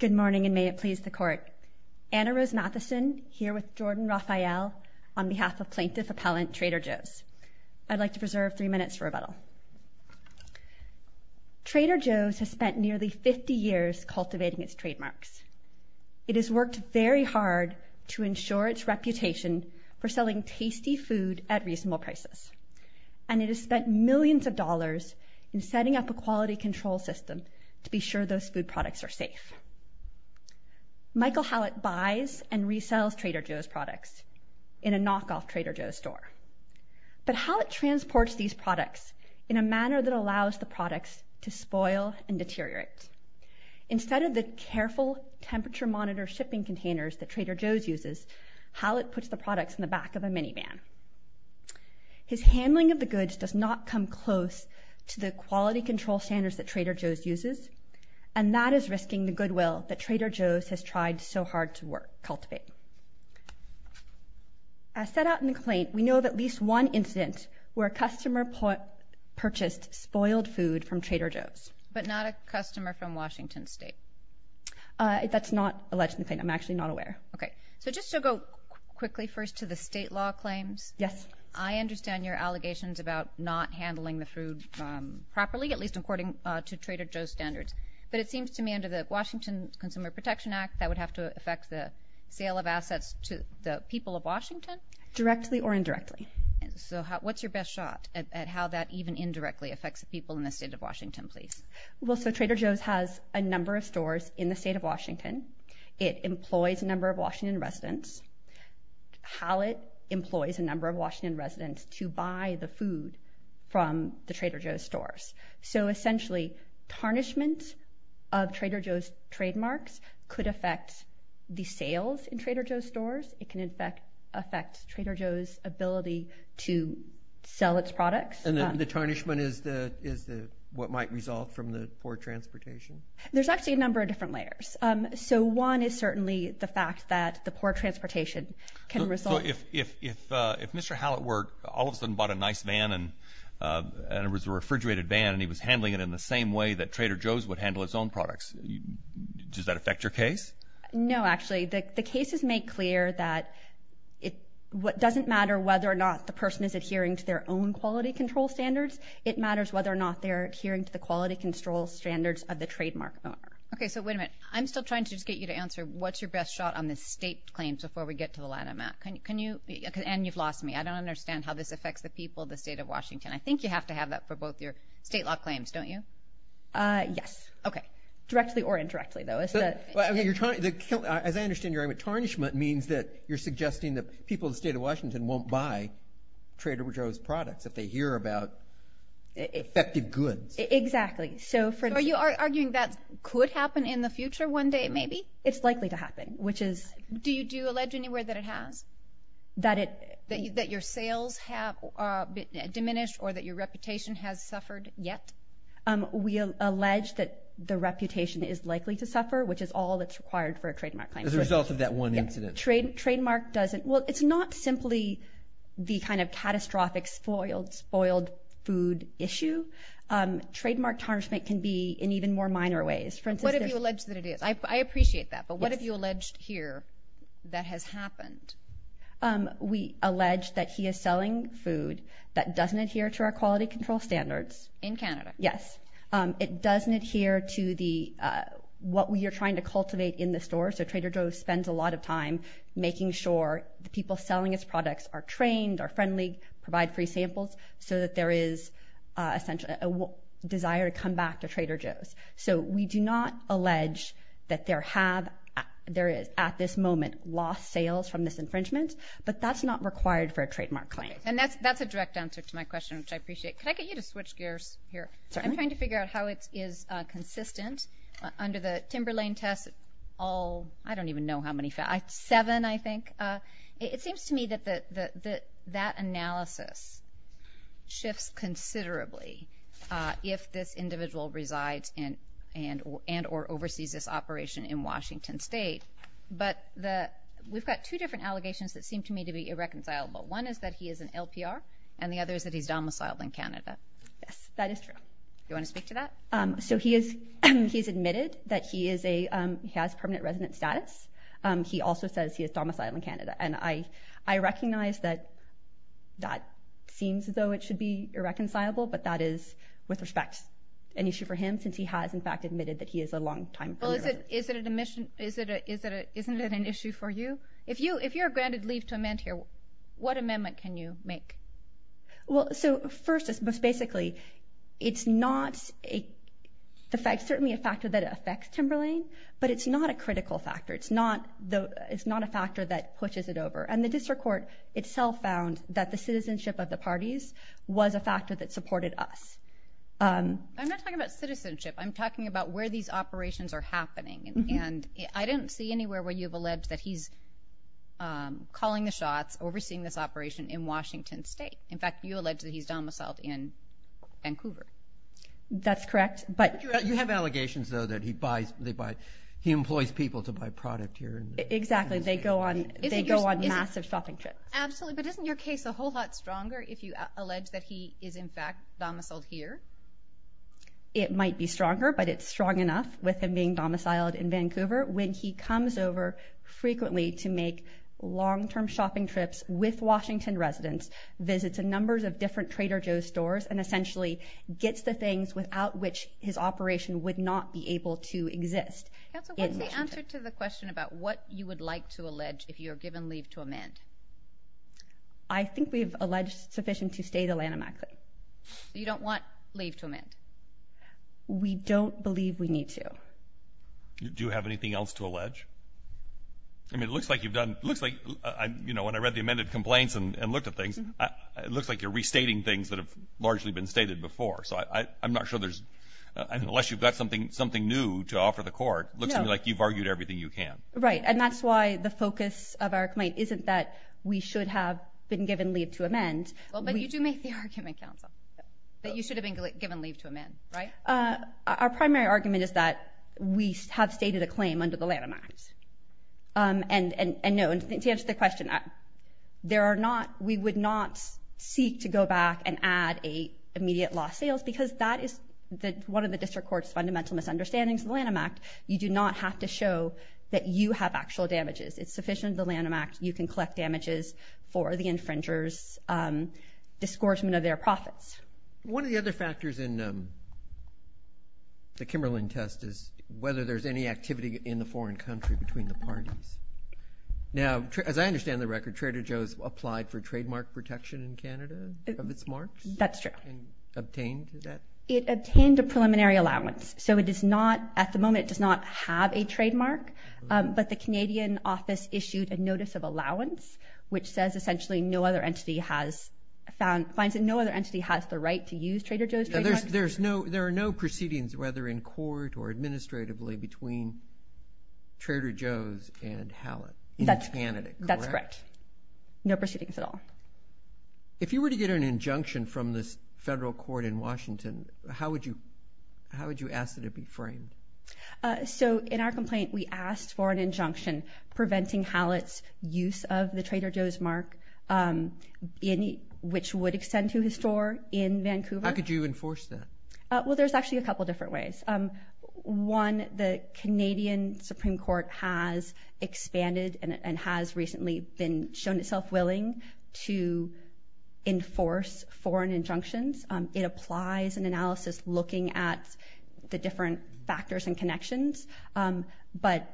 Good morning and may it please the Court. Anna Rose Matheson here with Jordan Raphael on behalf of plaintiff appellant Trader Joe's. I'd like to preserve three minutes for rebuttal. Trader Joe's has spent nearly 50 years cultivating its trademarks. It has worked very hard to ensure its reputation for selling tasty food at reasonable prices and it has spent millions of dollars in setting up a quality control system to be sure those food products are safe. Michael Hallatt buys and resells Trader Joe's products in a knockoff Trader Joe's store. But Hallatt transports these products in a manner that allows the products to spoil and deteriorate. Instead of the careful temperature monitor shipping containers that Trader Joe's uses, Hallatt puts the products in the back of a minivan. His handling of the goods does not come close to the quality control standards that Trader Joe's uses and that is risking the goodwill that Trader Joe's has tried so hard to work, cultivate. As set out in the complaint, we know of at least one incident where a customer purchased spoiled food from Trader Joe's. But not a customer from Washington State? That's not alleged in the claim. I'm actually not aware. Okay, so just to go quickly first to the state law claims. Yes. I understand your allegations about not handling the food properly, at least according to Trader Joe's standards. But it seems to me under the Washington Consumer Protection Act that would have to affect the sale of assets to the people of Washington? Directly or indirectly. So what's your best shot at how that even indirectly affects the people in the state of Washington please? Well so Trader Joe's has a number of stores in the state of Washington. It employs a number of Washington residents. Hallatt Trader Joe's stores. So essentially, tarnishment of Trader Joe's trademarks could affect the sales in Trader Joe's stores. It can in fact affect Trader Joe's ability to sell its products. And the tarnishment is the is the what might result from the poor transportation? There's actually a number of different layers. So one is certainly the fact that the poor transportation can result. So if if Mr. Hallett were all of a sudden bought a nice van and it was a refrigerated van and he was handling it in the same way that Trader Joe's would handle its own products, does that affect your case? No actually. The cases make clear that it doesn't matter whether or not the person is adhering to their own quality control standards. It matters whether or not they're adhering to the quality control standards of the trademark owner. Okay so wait a minute. I'm still trying to just get you to answer what's your best shot on the state claims before we get to the latter Matt. And you've lost me. I don't understand how this affects the people of the state of Washington. I think you have to have that for both your state law claims, don't you? Yes. Okay. Directly or indirectly though. As I understand your argument, tarnishment means that you're suggesting that people in the state of Washington won't buy Trader Joe's products if they hear about affected goods. Exactly. So for you are arguing that could happen in the future one day maybe? It's likely to happen. Which is? Do you do allege anywhere that it has? That it. That your sales have diminished or that your reputation has suffered yet? We allege that the reputation is likely to suffer which is all that's required for a trademark claim. As a result of that one incident. Trade trademark doesn't. Well it's not simply the kind of catastrophic spoiled spoiled food issue. Trademark tarnishment can be in even more minor ways. What have you alleged that it is? I appreciate that but what have you alleged here that has happened? We allege that he is selling food that doesn't adhere to our quality control standards. In Canada? Yes. It doesn't adhere to the what we are trying to cultivate in the store. So Trader Joe's spends a lot of time making sure the people selling its products are trained, are friendly, provide free samples so that there is essentially a desire to come back to Trader Joe's. So we do not allege that there have there is at this moment lost sales from this infringement. But that's not required for a trademark claim. And that's that's a direct answer to my question which I appreciate. Can I get you to switch gears here? I'm trying to figure out how it is consistent under the Timberlane test. All I don't even know how many facts. Seven I think. It seems to me that that analysis shifts considerably if this individual resides in and and or oversees this operation in Washington State. But the we've got two different allegations that seem to me to be irreconcilable. One is that he is an LPR and the other is that he's domiciled in Canada. That is true. You want to speak to that? So he is he's admitted that he is a has permanent resident status. He also says he is domiciled in Canada and I I recognize that that seems as though it should be irreconcilable but that is with respect an issue for him since he has in fact admitted that he is a long time. Well is it is it an admission is it is it isn't it an issue for you? If you if you're granted leave to amend here what amendment can you make? Well so first is most basically it's not a fact certainly a factor that affects Timberlane but it's not a critical factor. It's not the it's not a factor that pushes it over and the district court itself found that the citizenship of the parties was a factor that supported us. I'm not talking about citizenship I'm talking about where these operations are happening and I didn't see anywhere where you've alleged that he's calling the shots overseeing this operation in Washington State. In fact you allege that he's domiciled in Vancouver. That's correct but you have allegations though that he buys they buy he employs people to buy product here. Exactly they go on they go on massive shopping trips. Absolutely but isn't your case a whole lot stronger if you allege that he is in fact domiciled here? It might be stronger but it's strong enough with him being domiciled in Vancouver when he comes over frequently to make long-term shopping trips with Washington residents visits a numbers of different Trader Joe's stores and essentially gets the things without which his operation would not be able to exist. Councilwoman what's the answer to the question about what you would like to allege if you're given leave to amend? I think we've alleged sufficient to state Alanna Macklin. You don't want leave to amend? We don't believe we need to. Do you have anything else to allege? I mean it looks like you've done looks like I you know when I read the amended complaints and looked at things it looks like you're restating things that have largely been stated before so I I'm not sure there's unless you've got something something new to offer the court looks like you've argued everything you can. Right and that's why the focus of our complaint isn't that we should have been given leave to amend. Well but you do make the argument Council that you should have been given leave to amend right? Our primary argument is that we have stated a claim under the Lanham Act and and and known to answer the question there are not we would not seek to go back and add a immediate loss sales because that is that one of the district courts fundamental misunderstandings of the Lanham Act you do not have to show that you have actual damages it's sufficient the Lanham Act you can collect damages for the infringers disgorgement of their profits. One of the other factors in the Kimberlin test is whether there's any activity in the foreign country between the parties. Now as I understand the record Trader Joe's applied for trademark protection in Canada of its marks? That's true. And obtained that? It obtained a preliminary allowance so it is not at the moment it does not have a trademark but the Canadian office issued a notice of allowance which says essentially no other entity has found finds it no other entity has the right to use Trader Joe's trademark. There's no there are no proceedings whether in court or administratively between Trader Joe's and Hallett? That's correct no proceedings at all. If you were to get an injunction from this federal court in Washington how would you how would you ask that it be framed? So in our complaint we asked for an injunction preventing Hallett's use of the Trader Joe's mark in which would extend to his store in Vancouver. How could you enforce that? Well there's actually a couple different ways. One the Canadian Supreme Court has expanded and has recently been shown itself willing to enforce foreign injunctions. It applies an analysis looking at the different factors and connections but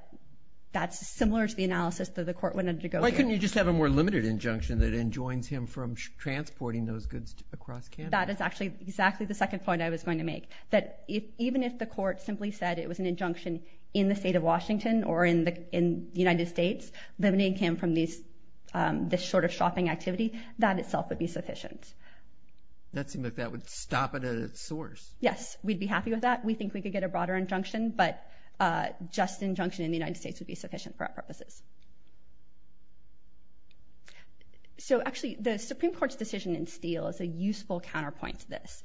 that's similar to the analysis that the court wanted to go through. Why couldn't you just have a more limited injunction that enjoins him from transporting those goods across Canada? That is actually exactly the second point I was going to make that even if the court simply said it was an injunction in the state of Washington or in the in the United States limiting him from these this sort of shopping activity that itself would be sufficient. That seemed like that would stop it at its source. Yes we'd be happy with that we think we could get a broader injunction but just injunction in the United States would be sufficient for our purposes. So actually the Supreme Court's decision in Steele is a useful counterpoint to this.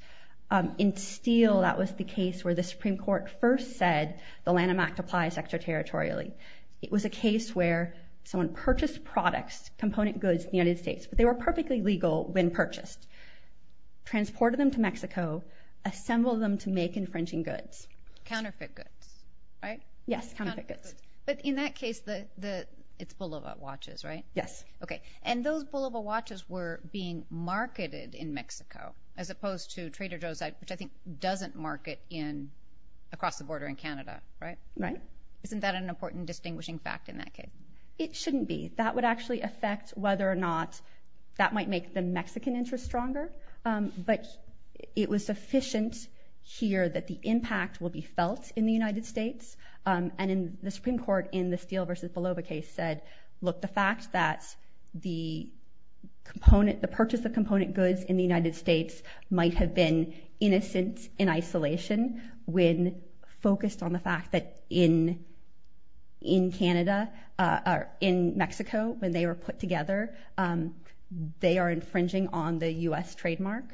In Steele that was the case where the Supreme Court first said the Lanham Act applies extraterritorially. It was a case where someone purchased products component goods in the United States but they were perfectly legal when purchased, transported them to Mexico, assembled them to make infringing goods. Counterfeit goods right? Yes counterfeit goods. But in that case the the it's Bulova watches right? Yes. Okay and those Bulova watches were being marketed in Mexico as opposed to Trader Joe's which I think doesn't market in across the border in Canada right? Right. Isn't that an important distinguishing fact in that case? It shouldn't be. That would actually affect whether or not that might make the Mexican interest stronger but it was sufficient here that the impact will be felt in the United States and in the Supreme Court in the Steele versus Bulova case said look the fact that the component the purchase of component goods in the United States might have been innocent in isolation when focused on the fact that in in Canada or in Mexico when they were put together they are infringing on the US trademark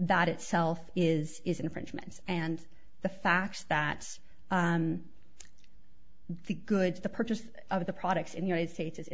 that itself is is infringement and the fact that the goods the purchase of the products in the United States is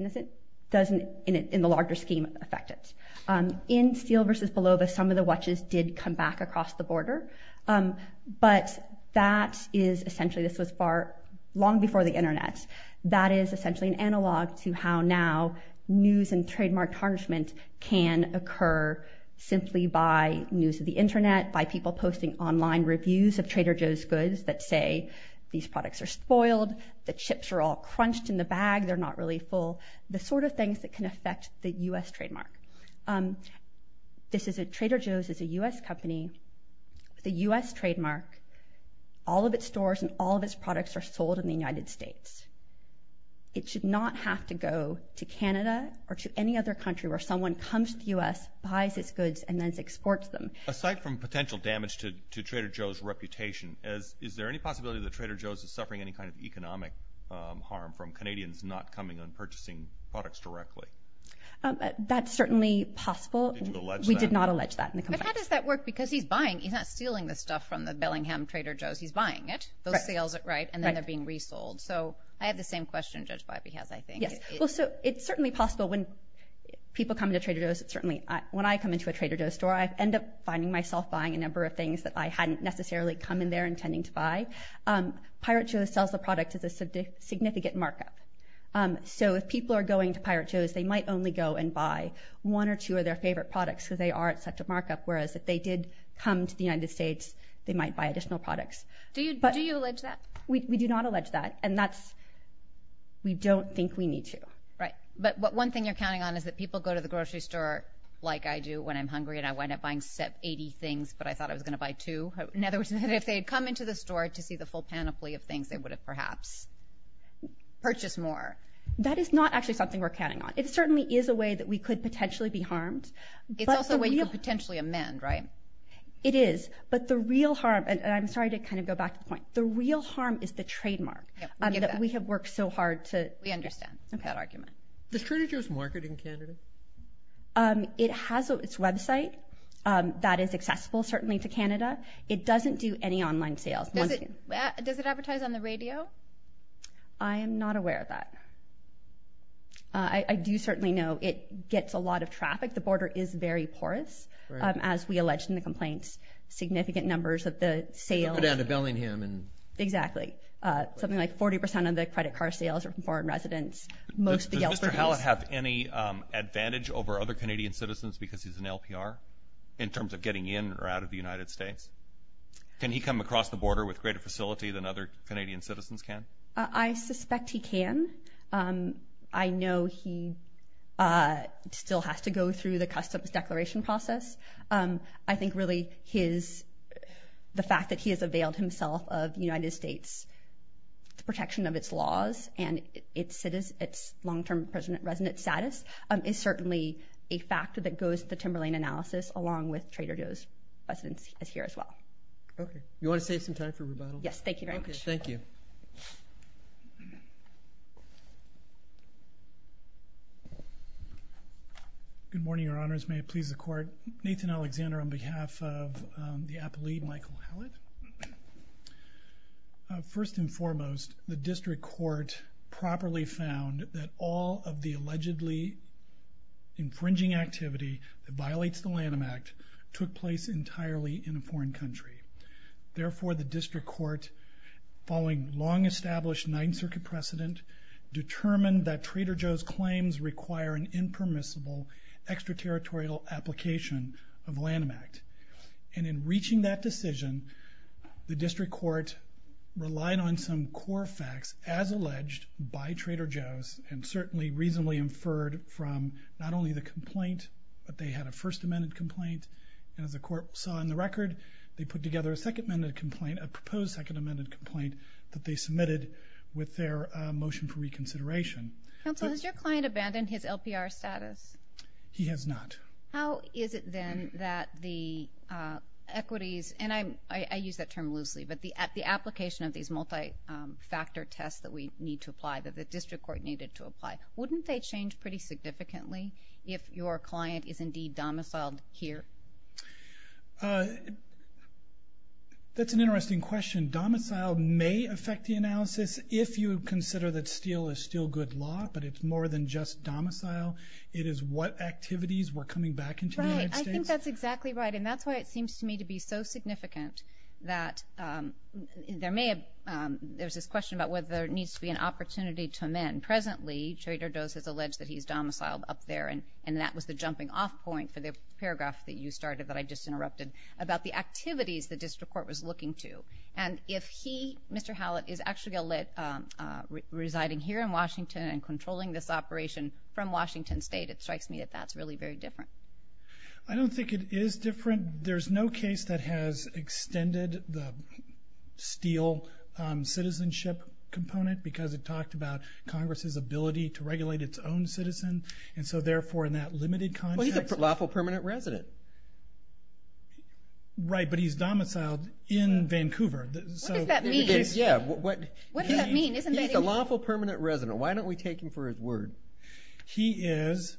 in Steele versus Bulova some of the watches did come back across the border but that is essentially this was far long before the Internet that is essentially an analog to how now news and trademark tarnishment can occur simply by news of the Internet by people posting online reviews of Trader Joe's goods that say these products are spoiled the chips are all crunched in the bag they're not really full the sort of things that can affect the US trademark this is a Trader Joe's is a US company the US trademark all of its stores and all of its products are sold in the United States it should not have to go to Canada or to any other country where someone comes to the US buys its goods and then exports them. Aside from potential damage to Trader Joe's reputation as is there any possibility that Trader Joe's is suffering any kind of economic harm from Canadians not coming on purchasing products directly? That's certainly possible we did not allege that. But how does that work because he's buying he's not stealing the stuff from the Bellingham Trader Joe's he's buying it those sales are right and then they're being resold so I have the same question Judge Bobby has I think. Yes well so it's certainly possible when people come to Trader Joe's certainly when I come into a Trader Joe's store I end up finding myself buying a number of things that I hadn't necessarily come in there intending to buy. Pirate Joe's sells the product is a significant markup. So if people are going to Pirate Joe's they might only go and buy one or two of their favorite products so they are at such a markup whereas if they did come to the United States they might buy additional products. Do you do you allege that? We do not allege that and that's we don't think we need to. Right but what one thing you're counting on is that people go to the grocery store like I do when I'm hungry and I wind up buying set 80 things but I thought I was gonna buy two. In other words if they had come into the store to see the full panoply of perhaps purchase more. That is not actually something we're counting on. It certainly is a way that we could potentially be harmed. It's also a way you could potentially amend right? It is but the real harm and I'm sorry to kind of go back to the point the real harm is the trademark. We have worked so hard to understand that argument. Does Trader Joe's market in Canada? It has its website that is accessible certainly to Canada. It doesn't do any online sales. Does it advertise on the radio? I am not aware of that. I do certainly know it gets a lot of traffic. The border is very porous as we alleged in the complaints. Significant numbers of the sale. Down to Bellingham and. Exactly something like 40% of the credit car sales are from foreign residents. Does Mr. Hallett have any advantage over other Canadian citizens because he's an LPR in terms of getting in or out of the United States? Can he come across the border with greater facility than other Canadian citizens can? I suspect he can. I know he still has to go through the customs declaration process. I think really his the fact that he has availed himself of United States protection of its laws and its long-term resident status is certainly a factor that with Trader Joe's residents is here as well. Okay. You want to save some time for rebuttal? Yes. Thank you very much. Thank you. Good morning, your honors. May it please the court. Nathan Alexander on behalf of the appellee, Michael Hallett. First and foremost, the district court properly found that all of the allegedly infringing activity that violates the Trader Joe's took place entirely in a foreign country. Therefore, the district court, following long established Ninth Circuit precedent, determined that Trader Joe's claims require an impermissible extraterritorial application of Lanham Act. And in reaching that decision, the district court relied on some core facts as alleged by Trader Joe's and certainly reasonably inferred from not only the complaint, but they had a first amended complaint and as the court saw in the record, they put together a second amended complaint, a proposed second amended complaint that they submitted with their motion for reconsideration. Counselor, has your client abandoned his LPR status? He has not. How is it then that the equities, and I use that term loosely, but the application of these multi-factor tests that we need to apply, that the district court needed to apply, wouldn't they change pretty significantly if your client is indeed domiciled here? That's an interesting question. Domicile may affect the analysis if you consider that steel is still good law, but it's more than just domicile, it is what activities were coming back into the United States. Right, I think that's exactly right. And that's why it seems to me to be so significant that there may have... There's this question about whether there is... Congress has alleged that he's domiciled up there and that was the jumping off point for the paragraph that you started that I just interrupted about the activities the district court was looking to. And if he, Mr. Hallett, is actually residing here in Washington and controlling this operation from Washington State, it strikes me that that's really very different. I don't think it is different. There's no case that has extended the steel citizenship component because it talked about Congress's ability to regulate its own citizen. And so therefore, in that limited context... Well, he's a lawful permanent resident. Right, but he's domiciled in Vancouver. So... What does that mean? Yeah, what... What does that mean? Isn't that a... He's a lawful permanent resident. Why don't we take him for his word? He is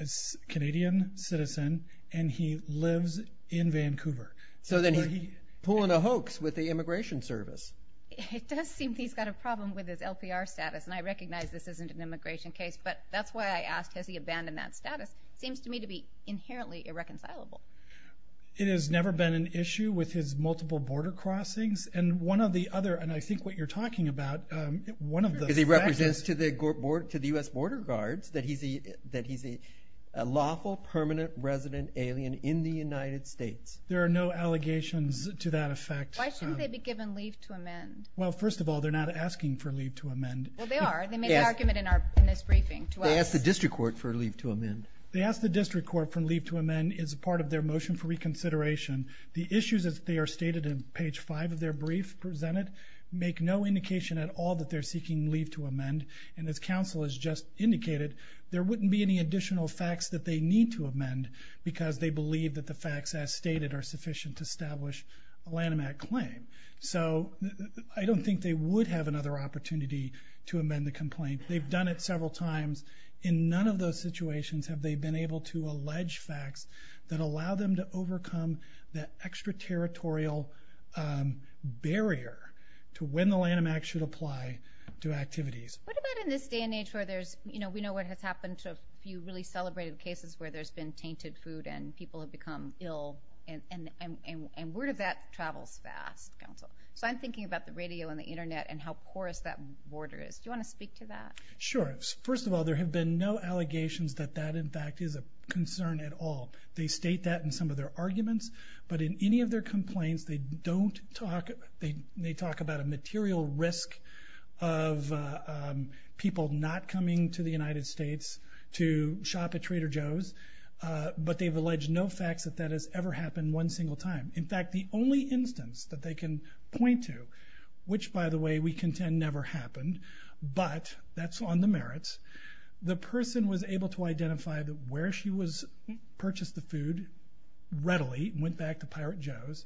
a Canadian citizen and he lives in Vancouver. So then he's pulling a hoax with the Immigration Service. It does seem he's got a problem with his LPR status and I recognize this isn't an immigration case, but that's why I asked, has he abandoned that status? It seems to me to be inherently irreconcilable. It has never been an issue with his multiple border crossings. And one of the other, and I think what you're talking about, one of the... Because he represents to the U.S. Border Guards that he's a lawful permanent resident alien in the United States. There are no allegations to that effect. Why shouldn't they be given leave to amend? Well, first of all, they're not asking for leave to amend. Well, they are. They made an argument in this briefing to us. They asked the district court for leave to amend. They asked the district court for leave to amend as a part of their motion for reconsideration. The issues as they are stated in page five of their brief presented, make no indication at all that they're seeking leave to amend. And as counsel has just indicated, there wouldn't be any additional facts that they need to amend because they believe that the facts as stated are sufficient to establish a Lanham Act claim. So I don't think they would have another opportunity to amend the complaint. They've done it several times. In none of those situations have they been able to allege facts that allow them to overcome that extraterritorial barrier to when the Lanham Act should apply to activities. What about in this day and age where there's... We know what has happened to a few really celebrated cases where there's been tainted food and people have become ill, and word of that travels fast, counsel. So I'm thinking about the radio and the internet and how porous that border is. Do you wanna speak to that? Sure. First of all, there have been no allegations that that, in fact, is a concern at all. They state that in some of their arguments, but in any of their complaints, they don't talk... They talk about a material risk of people not coming to the United States to shop at Trader Joe's, but they've alleged no facts that that has ever happened one single time. In fact, the only instance that they can point to, which, by the way, we contend never happened, but that's on the merits, the person was able to identify where she was, purchased the food readily, went back to Pirate Joe's,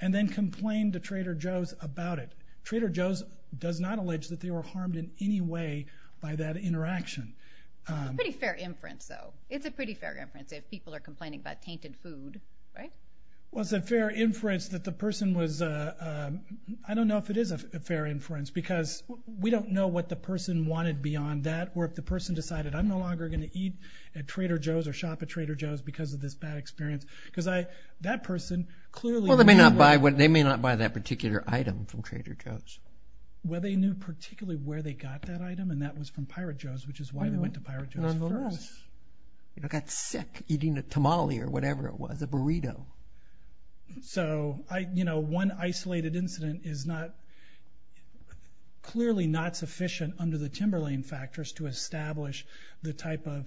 and then complained to Trader Joe's about it. Trader Joe's does not allege that they were harmed in any way by that interaction. It's a pretty fair inference, though. It's a pretty fair inference if people are complaining about tainted food, right? Well, it's a fair inference, because we don't know what the person wanted beyond that, or if the person decided, I'm no longer gonna eat at Trader Joe's or shop at Trader Joe's because of this bad experience, because that person clearly... Well, they may not buy that particular item from Trader Joe's. Well, they knew particularly where they got that item, and that was from Pirate Joe's, which is why they went to Pirate Joe's first. I got sick eating a tamale or whatever it was, a burrito. So, one isolated incident is not... Clearly not sufficient under the Timberlain factors to establish the type of...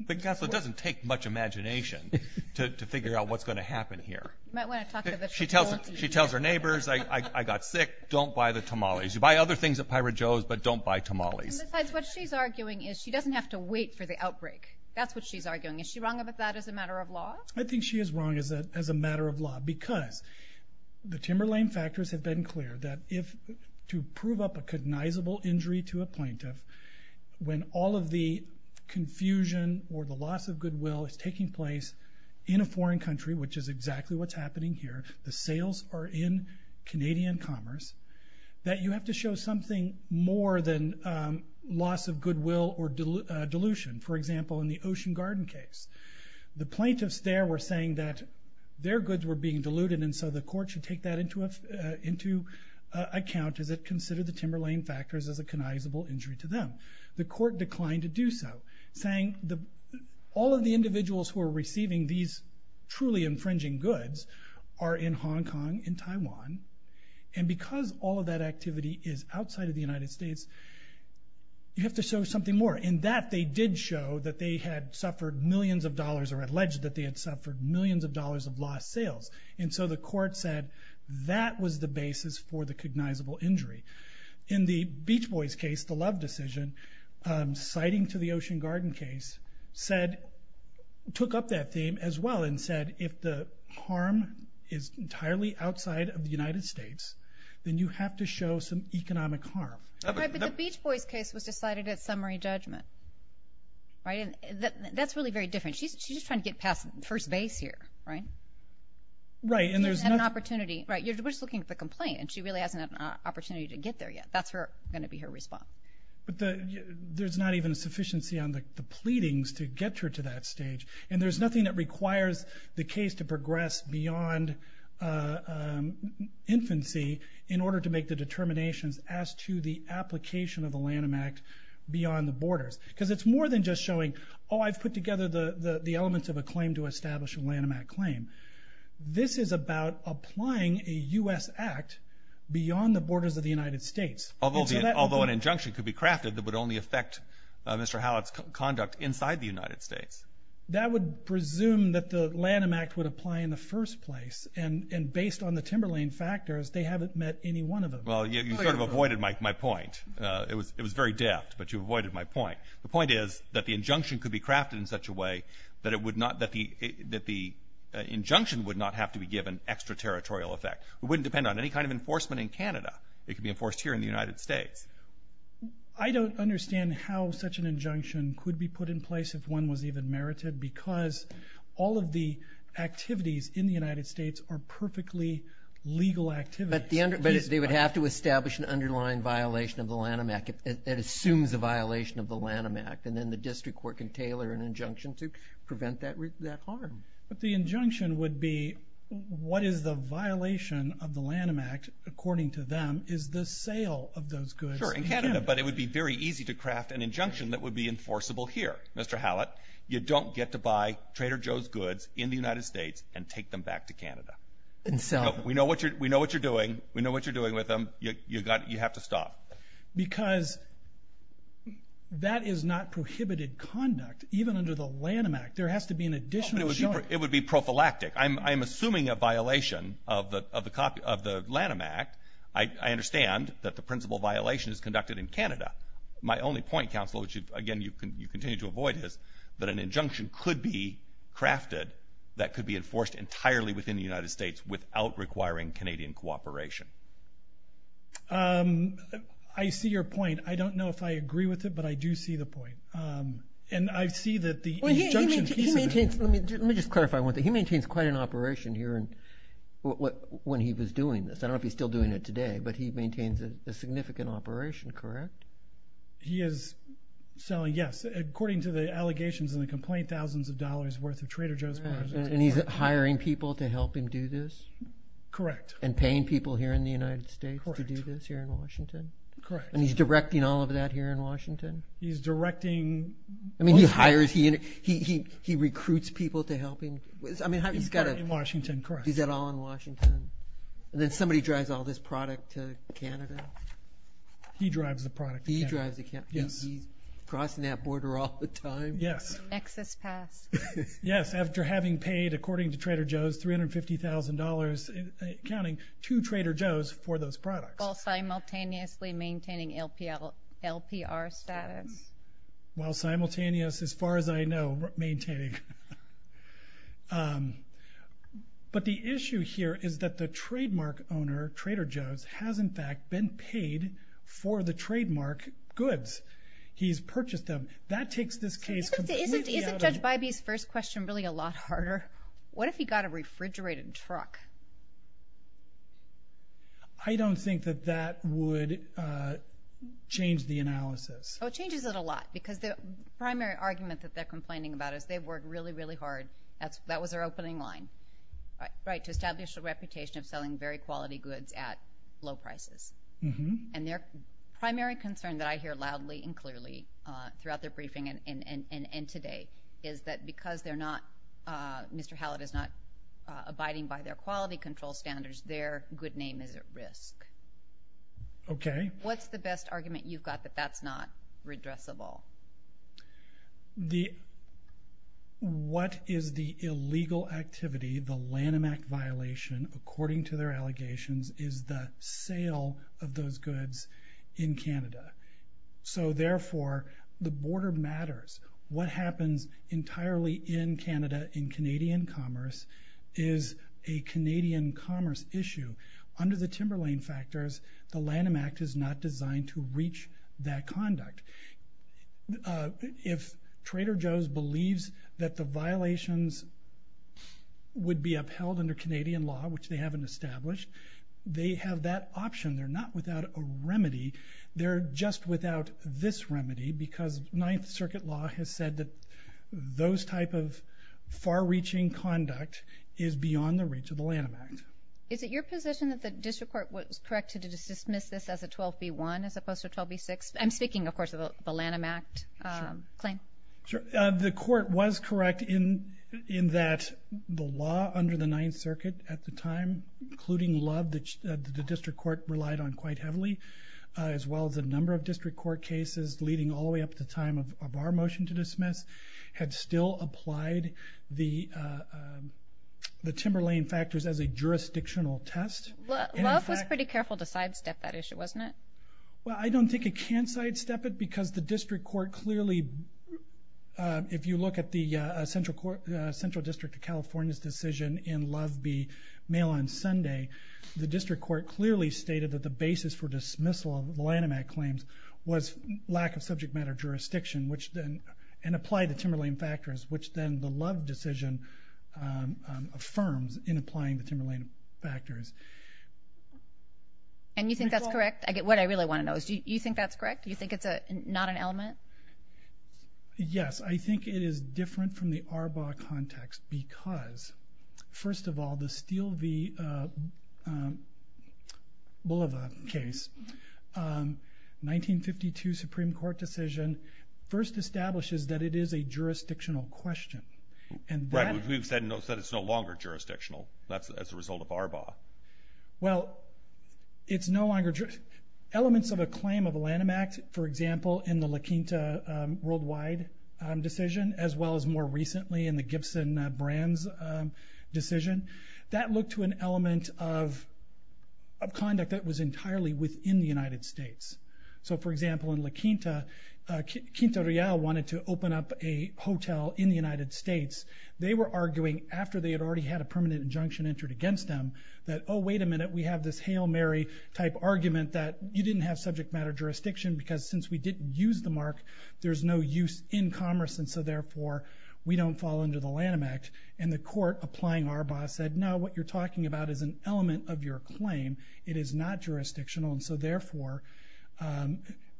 But, Gosselaar, it doesn't take much imagination to figure out what's gonna happen here. You might wanna talk to the... She tells her neighbors, I got sick, don't buy the tamales. You buy other things at Pirate Joe's, but don't buy tamales. And besides, what she's arguing is she doesn't have to wait for the outbreak. That's what she's arguing. Is she wrong about that as a matter of law? Because the Timberlain factors have been clear that if... To prove up a cognizable injury to a plaintiff, when all of the confusion or the loss of goodwill is taking place in a foreign country, which is exactly what's happening here, the sales are in Canadian commerce, that you have to show something more than loss of goodwill or dilution. For example, in the Ocean Garden case, the plaintiffs there were saying that their goods were being diluted, and so the court should take that into account as it considered the Timberlain factors as a cognizable injury to them. The court declined to do so, saying all of the individuals who are receiving these truly infringing goods are in Hong Kong, in Taiwan, and because all of that activity is outside of the United States, you have to show something more. And that they did show that they had suffered millions of dollars, or alleged that they had suffered millions of dollars of lost sales. And so the court said that was the basis for the cognizable injury. In the Beach Boys case, the Love decision, citing to the Ocean Garden case, took up that theme as well and said, if the harm is entirely outside of the United States, then you have to show some economic harm. Right, but the Beach Boys case was decided at summary judgment, right? And that's really very different. She's just trying to get past first base here, right? Right, and there's no... You're just looking at the complaint, and she really hasn't had an opportunity to get there yet. That's gonna be her response. But there's not even a sufficiency on the pleadings to get her to that stage, and there's nothing that requires the case to progress beyond infancy in order to make the determinations as to the application of the Lanham Act beyond the borders. Because it's more than just showing, oh, I've put together the elements of a claim to establish a Lanham Act claim. This is about applying a US Act beyond the borders of the United States. Although an injunction could be crafted that would only affect Mr. Hallett's conduct inside the United States. That would presume that the Lanham Act would apply in the first place, and based on the Timberlane factors, they haven't met any one of them. Well, you sort of avoided my point. It was very deft, but you avoided my point. The point is that the injunction could be crafted in such a way that the injunction would not have to be given extra territorial effect. It wouldn't depend on any kind of enforcement in Canada. It could be enforced here in the United States. I don't understand how such an injunction could be put in place if one was even merited, because all of the activities in the United States are perfectly legal activities. But they would have to establish an underlying violation of the Lanham Act. It assumes a violation of the Lanham Act, and then the district court can tailor an injunction to prevent that harm. But the injunction would be, what is the violation of the Lanham Act, according to them, is the sale of those goods in Canada. Sure, in Canada, but it would be very easy to craft an injunction that would be enforceable here. Mr. Hallett, you don't get to buy Trader Joe's goods in the United States and take them back to Canada. We know what you're doing. We know what you're doing with them. You have to stop. Because that is not prohibited conduct, even under the Lanham Act. There has to be an additional... It would be prophylactic. I'm assuming a violation of the Lanham Act. I understand that the principal violation is conducted in Canada. My only point, Counselor, which again, you continue to avoid is that an injunction could be crafted that could be enforced entirely within the United States without requiring Canadian cooperation. I see your point. I don't know if I agree with it, but I do see the point. And I see that the injunction... He maintains... Let me just clarify one thing. He maintains quite an operation here when he was doing this. I don't know if he's still doing it today, but he maintains a significant operation, correct? He is selling, yes, according to the allegations and the complaint, thousands of dollars worth of Trader Joe's products. And he's hiring people to help him do this? Correct. And paying people here in the United States to do this here in Washington? Correct. And he's directing all of that here in Washington? He's directing... He hires... He recruits people to help him. He's got a... In Washington, correct. He's got it all in Washington. And then somebody drives all this product to Canada? He drives the product to Canada. He drives the... He's crossing that border all the time? Yes. Excess pass. Yes, after having paid, according to Trader Joe's, $350,000, counting two Trader Joe's for those products. While simultaneously maintaining LPR status? While simultaneous, as far as I know, maintaining. But the issue here is that the trademark owner, Trader Joe's, has, in fact, been paid for the trademark goods. He's purchased them. That takes this case completely out of... Isn't Judge Bybee's first question really a lot harder? What if he got a refrigerated truck? I don't think that that would change the analysis. Oh, it changes it a lot, because the primary argument that they're complaining about is they worked really, really hard. That was their opening line, right, to establish a reputation of selling very quality goods at low prices. And their primary concern that I hear loudly and clearly throughout their briefing and today, is that because they're not... Mr. Hallett is not abiding by their quality control standards, their good name is at risk. Okay. What's the best argument you've got that that's not redressable? The... What is the illegal activity, the Lanham Act violation, according to their allegations, is the sale of those goods in Canada. So therefore, the border matters. What happens entirely in Canada in Canadian commerce is a Canadian commerce issue. Under the Timberlane factors, the Lanham Act is not designed to reach that conduct. If Trader Joe's believes that the violations would be upheld under Canadian law, which they haven't established, they have that option. They're not without a remedy. They're just without this remedy, because Ninth Circuit law has said that those type of far reaching conduct is beyond the reach of the Lanham Act. Is it your position that the district court was correct to dismiss this as a 12B1 as opposed to 12B6? I'm speaking, of course, of the Lanham Act claim. Sure. The court was correct in that the law under the Ninth Circuit at the time, including love that the district court relied on quite heavily, as well as a number of district court cases leading all the way up to the time of our motion to dismiss, had still applied the jurisdictional test. Love was pretty careful to sidestep that issue, wasn't it? Well, I don't think it can sidestep it because the district court clearly... If you look at the Central District of California's decision in Love B Mail on Sunday, the district court clearly stated that the basis for dismissal of the Lanham Act claims was lack of subject matter jurisdiction, which then... And applied the Timberlane factors, which then the Love decision affirms in applying the Timberlane factors. And you think that's correct? What I really wanna know is, do you think that's correct? Do you think it's not an element? Yes, I think it is different from the Arbaugh context because, first of all, the Steele v. Boliva case, 1952 Supreme Court decision first establishes that it is a jurisdictional question. And that... Right, but we've said that it's no longer jurisdictional, that's as a result of Arbaugh. Well, it's no longer... Elements of a claim of a Lanham Act, for example, in the La Quinta worldwide decision, as well as more recently in the Gibson-Brands decision, that looked to an element of conduct that was entirely within the United States. So, for example, in La Quinta, Quinta Real wanted to open up a hotel in the United States. They were arguing, after they had already had a permanent injunction entered against them, that, oh, wait a minute, we have this Hail Mary type argument that you didn't have subject matter jurisdiction, because since we didn't use the mark, there's no use in commerce, and so therefore, we don't fall under the Lanham Act. And the court applying Arbaugh said, no, what you're talking about is an element of your claim, it is not jurisdictional, and so therefore,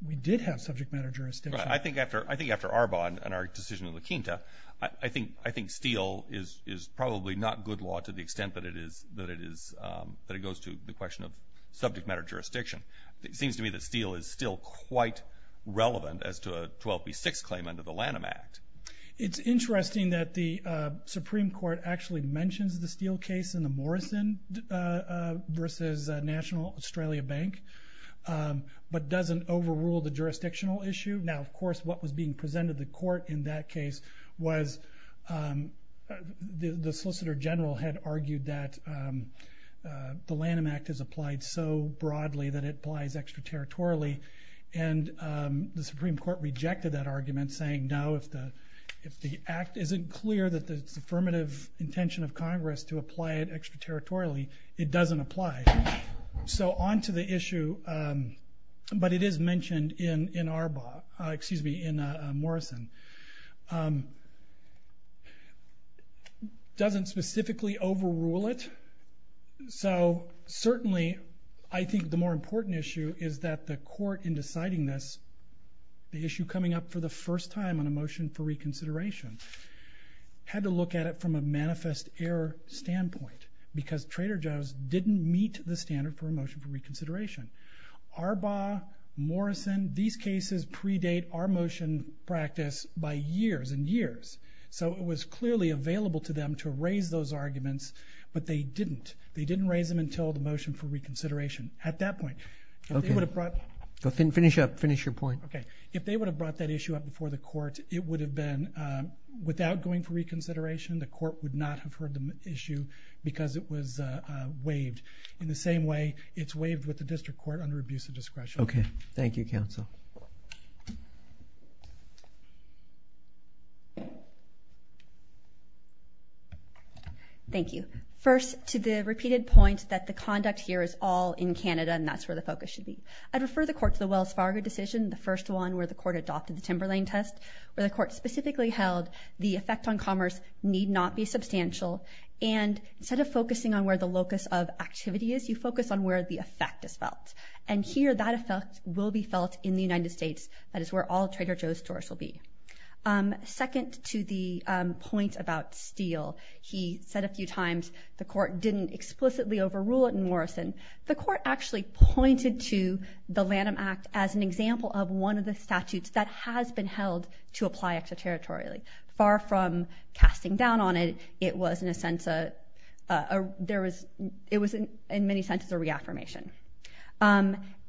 we did have subject matter jurisdiction. I think after Arbaugh and our decision in La Quinta, I think Steele is probably not good law to the extent that it is... That it goes to the question of subject matter jurisdiction. It seems to me that Steele is still quite relevant as to a 12B6 claim under the Lanham Act. It's interesting that the Supreme Court, which is a National Australia Bank, but doesn't overrule the jurisdictional issue. Now, of course, what was being presented to the court in that case was the Solicitor General had argued that the Lanham Act is applied so broadly that it applies extraterritorially, and the Supreme Court rejected that argument, saying, no, if the Act isn't clear that it's affirmative intention of Congress to apply it so on to the issue, but it is mentioned in Arbaugh, excuse me, in Morrison. Doesn't specifically overrule it, so certainly, I think the more important issue is that the court in deciding this, the issue coming up for the first time on a motion for reconsideration, had to look at it from a manifest error standpoint, because Trader Joe's didn't meet the standard for a motion for reconsideration. Arbaugh, Morrison, these cases predate our motion practice by years and years, so it was clearly available to them to raise those arguments, but they didn't. They didn't raise them until the motion for reconsideration at that point. If they would have brought... Finish up, finish your point. Okay. If they would have brought that issue up before the court, it would have been without going for reconsideration, the court would not have heard the issue because it was waived. In the same way, it's waived with the district court under abuse of discretion. Okay. Thank you, counsel. Thank you. First, to the repeated point that the conduct here is all in Canada, and that's where the focus should be. I'd refer the court to the Wells Fargo decision, the first one where the court adopted the Timberlane test, where the court specifically held the effect on commerce need not be substantial. And instead of focusing on where the locus of activity is, you focus on where the effect is felt. And here, that effect will be felt in the United States. That is where all Trader Joe's stores will be. Second, to the point about Steele, he said a few times the court didn't explicitly overrule it in Morrison. The court actually pointed to the Lanham Act as an example of one of the things that was passing down on it. It was, in many senses, a reaffirmation.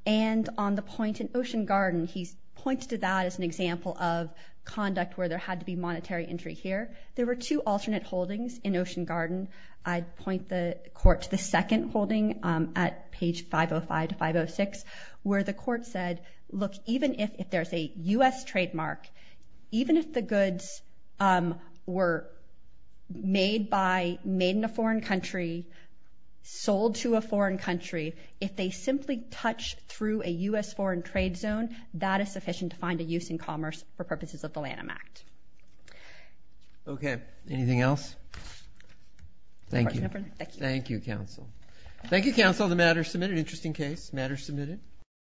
And on the point in Ocean Garden, he's pointed to that as an example of conduct where there had to be monetary entry here. There were two alternate holdings in Ocean Garden. I'd point the court to the second holding at page 505 to 506, where the court said, look, even if there's a US trademark, even if the goods were made in a foreign country, sold to a foreign country, if they simply touch through a US foreign trade zone, that is sufficient to find a use in commerce for purposes of the Lanham Act. Okay. Anything else? Thank you. Thank you, counsel. Thank you, counsel. The matter's submitted. Interesting case. Matter's submitted.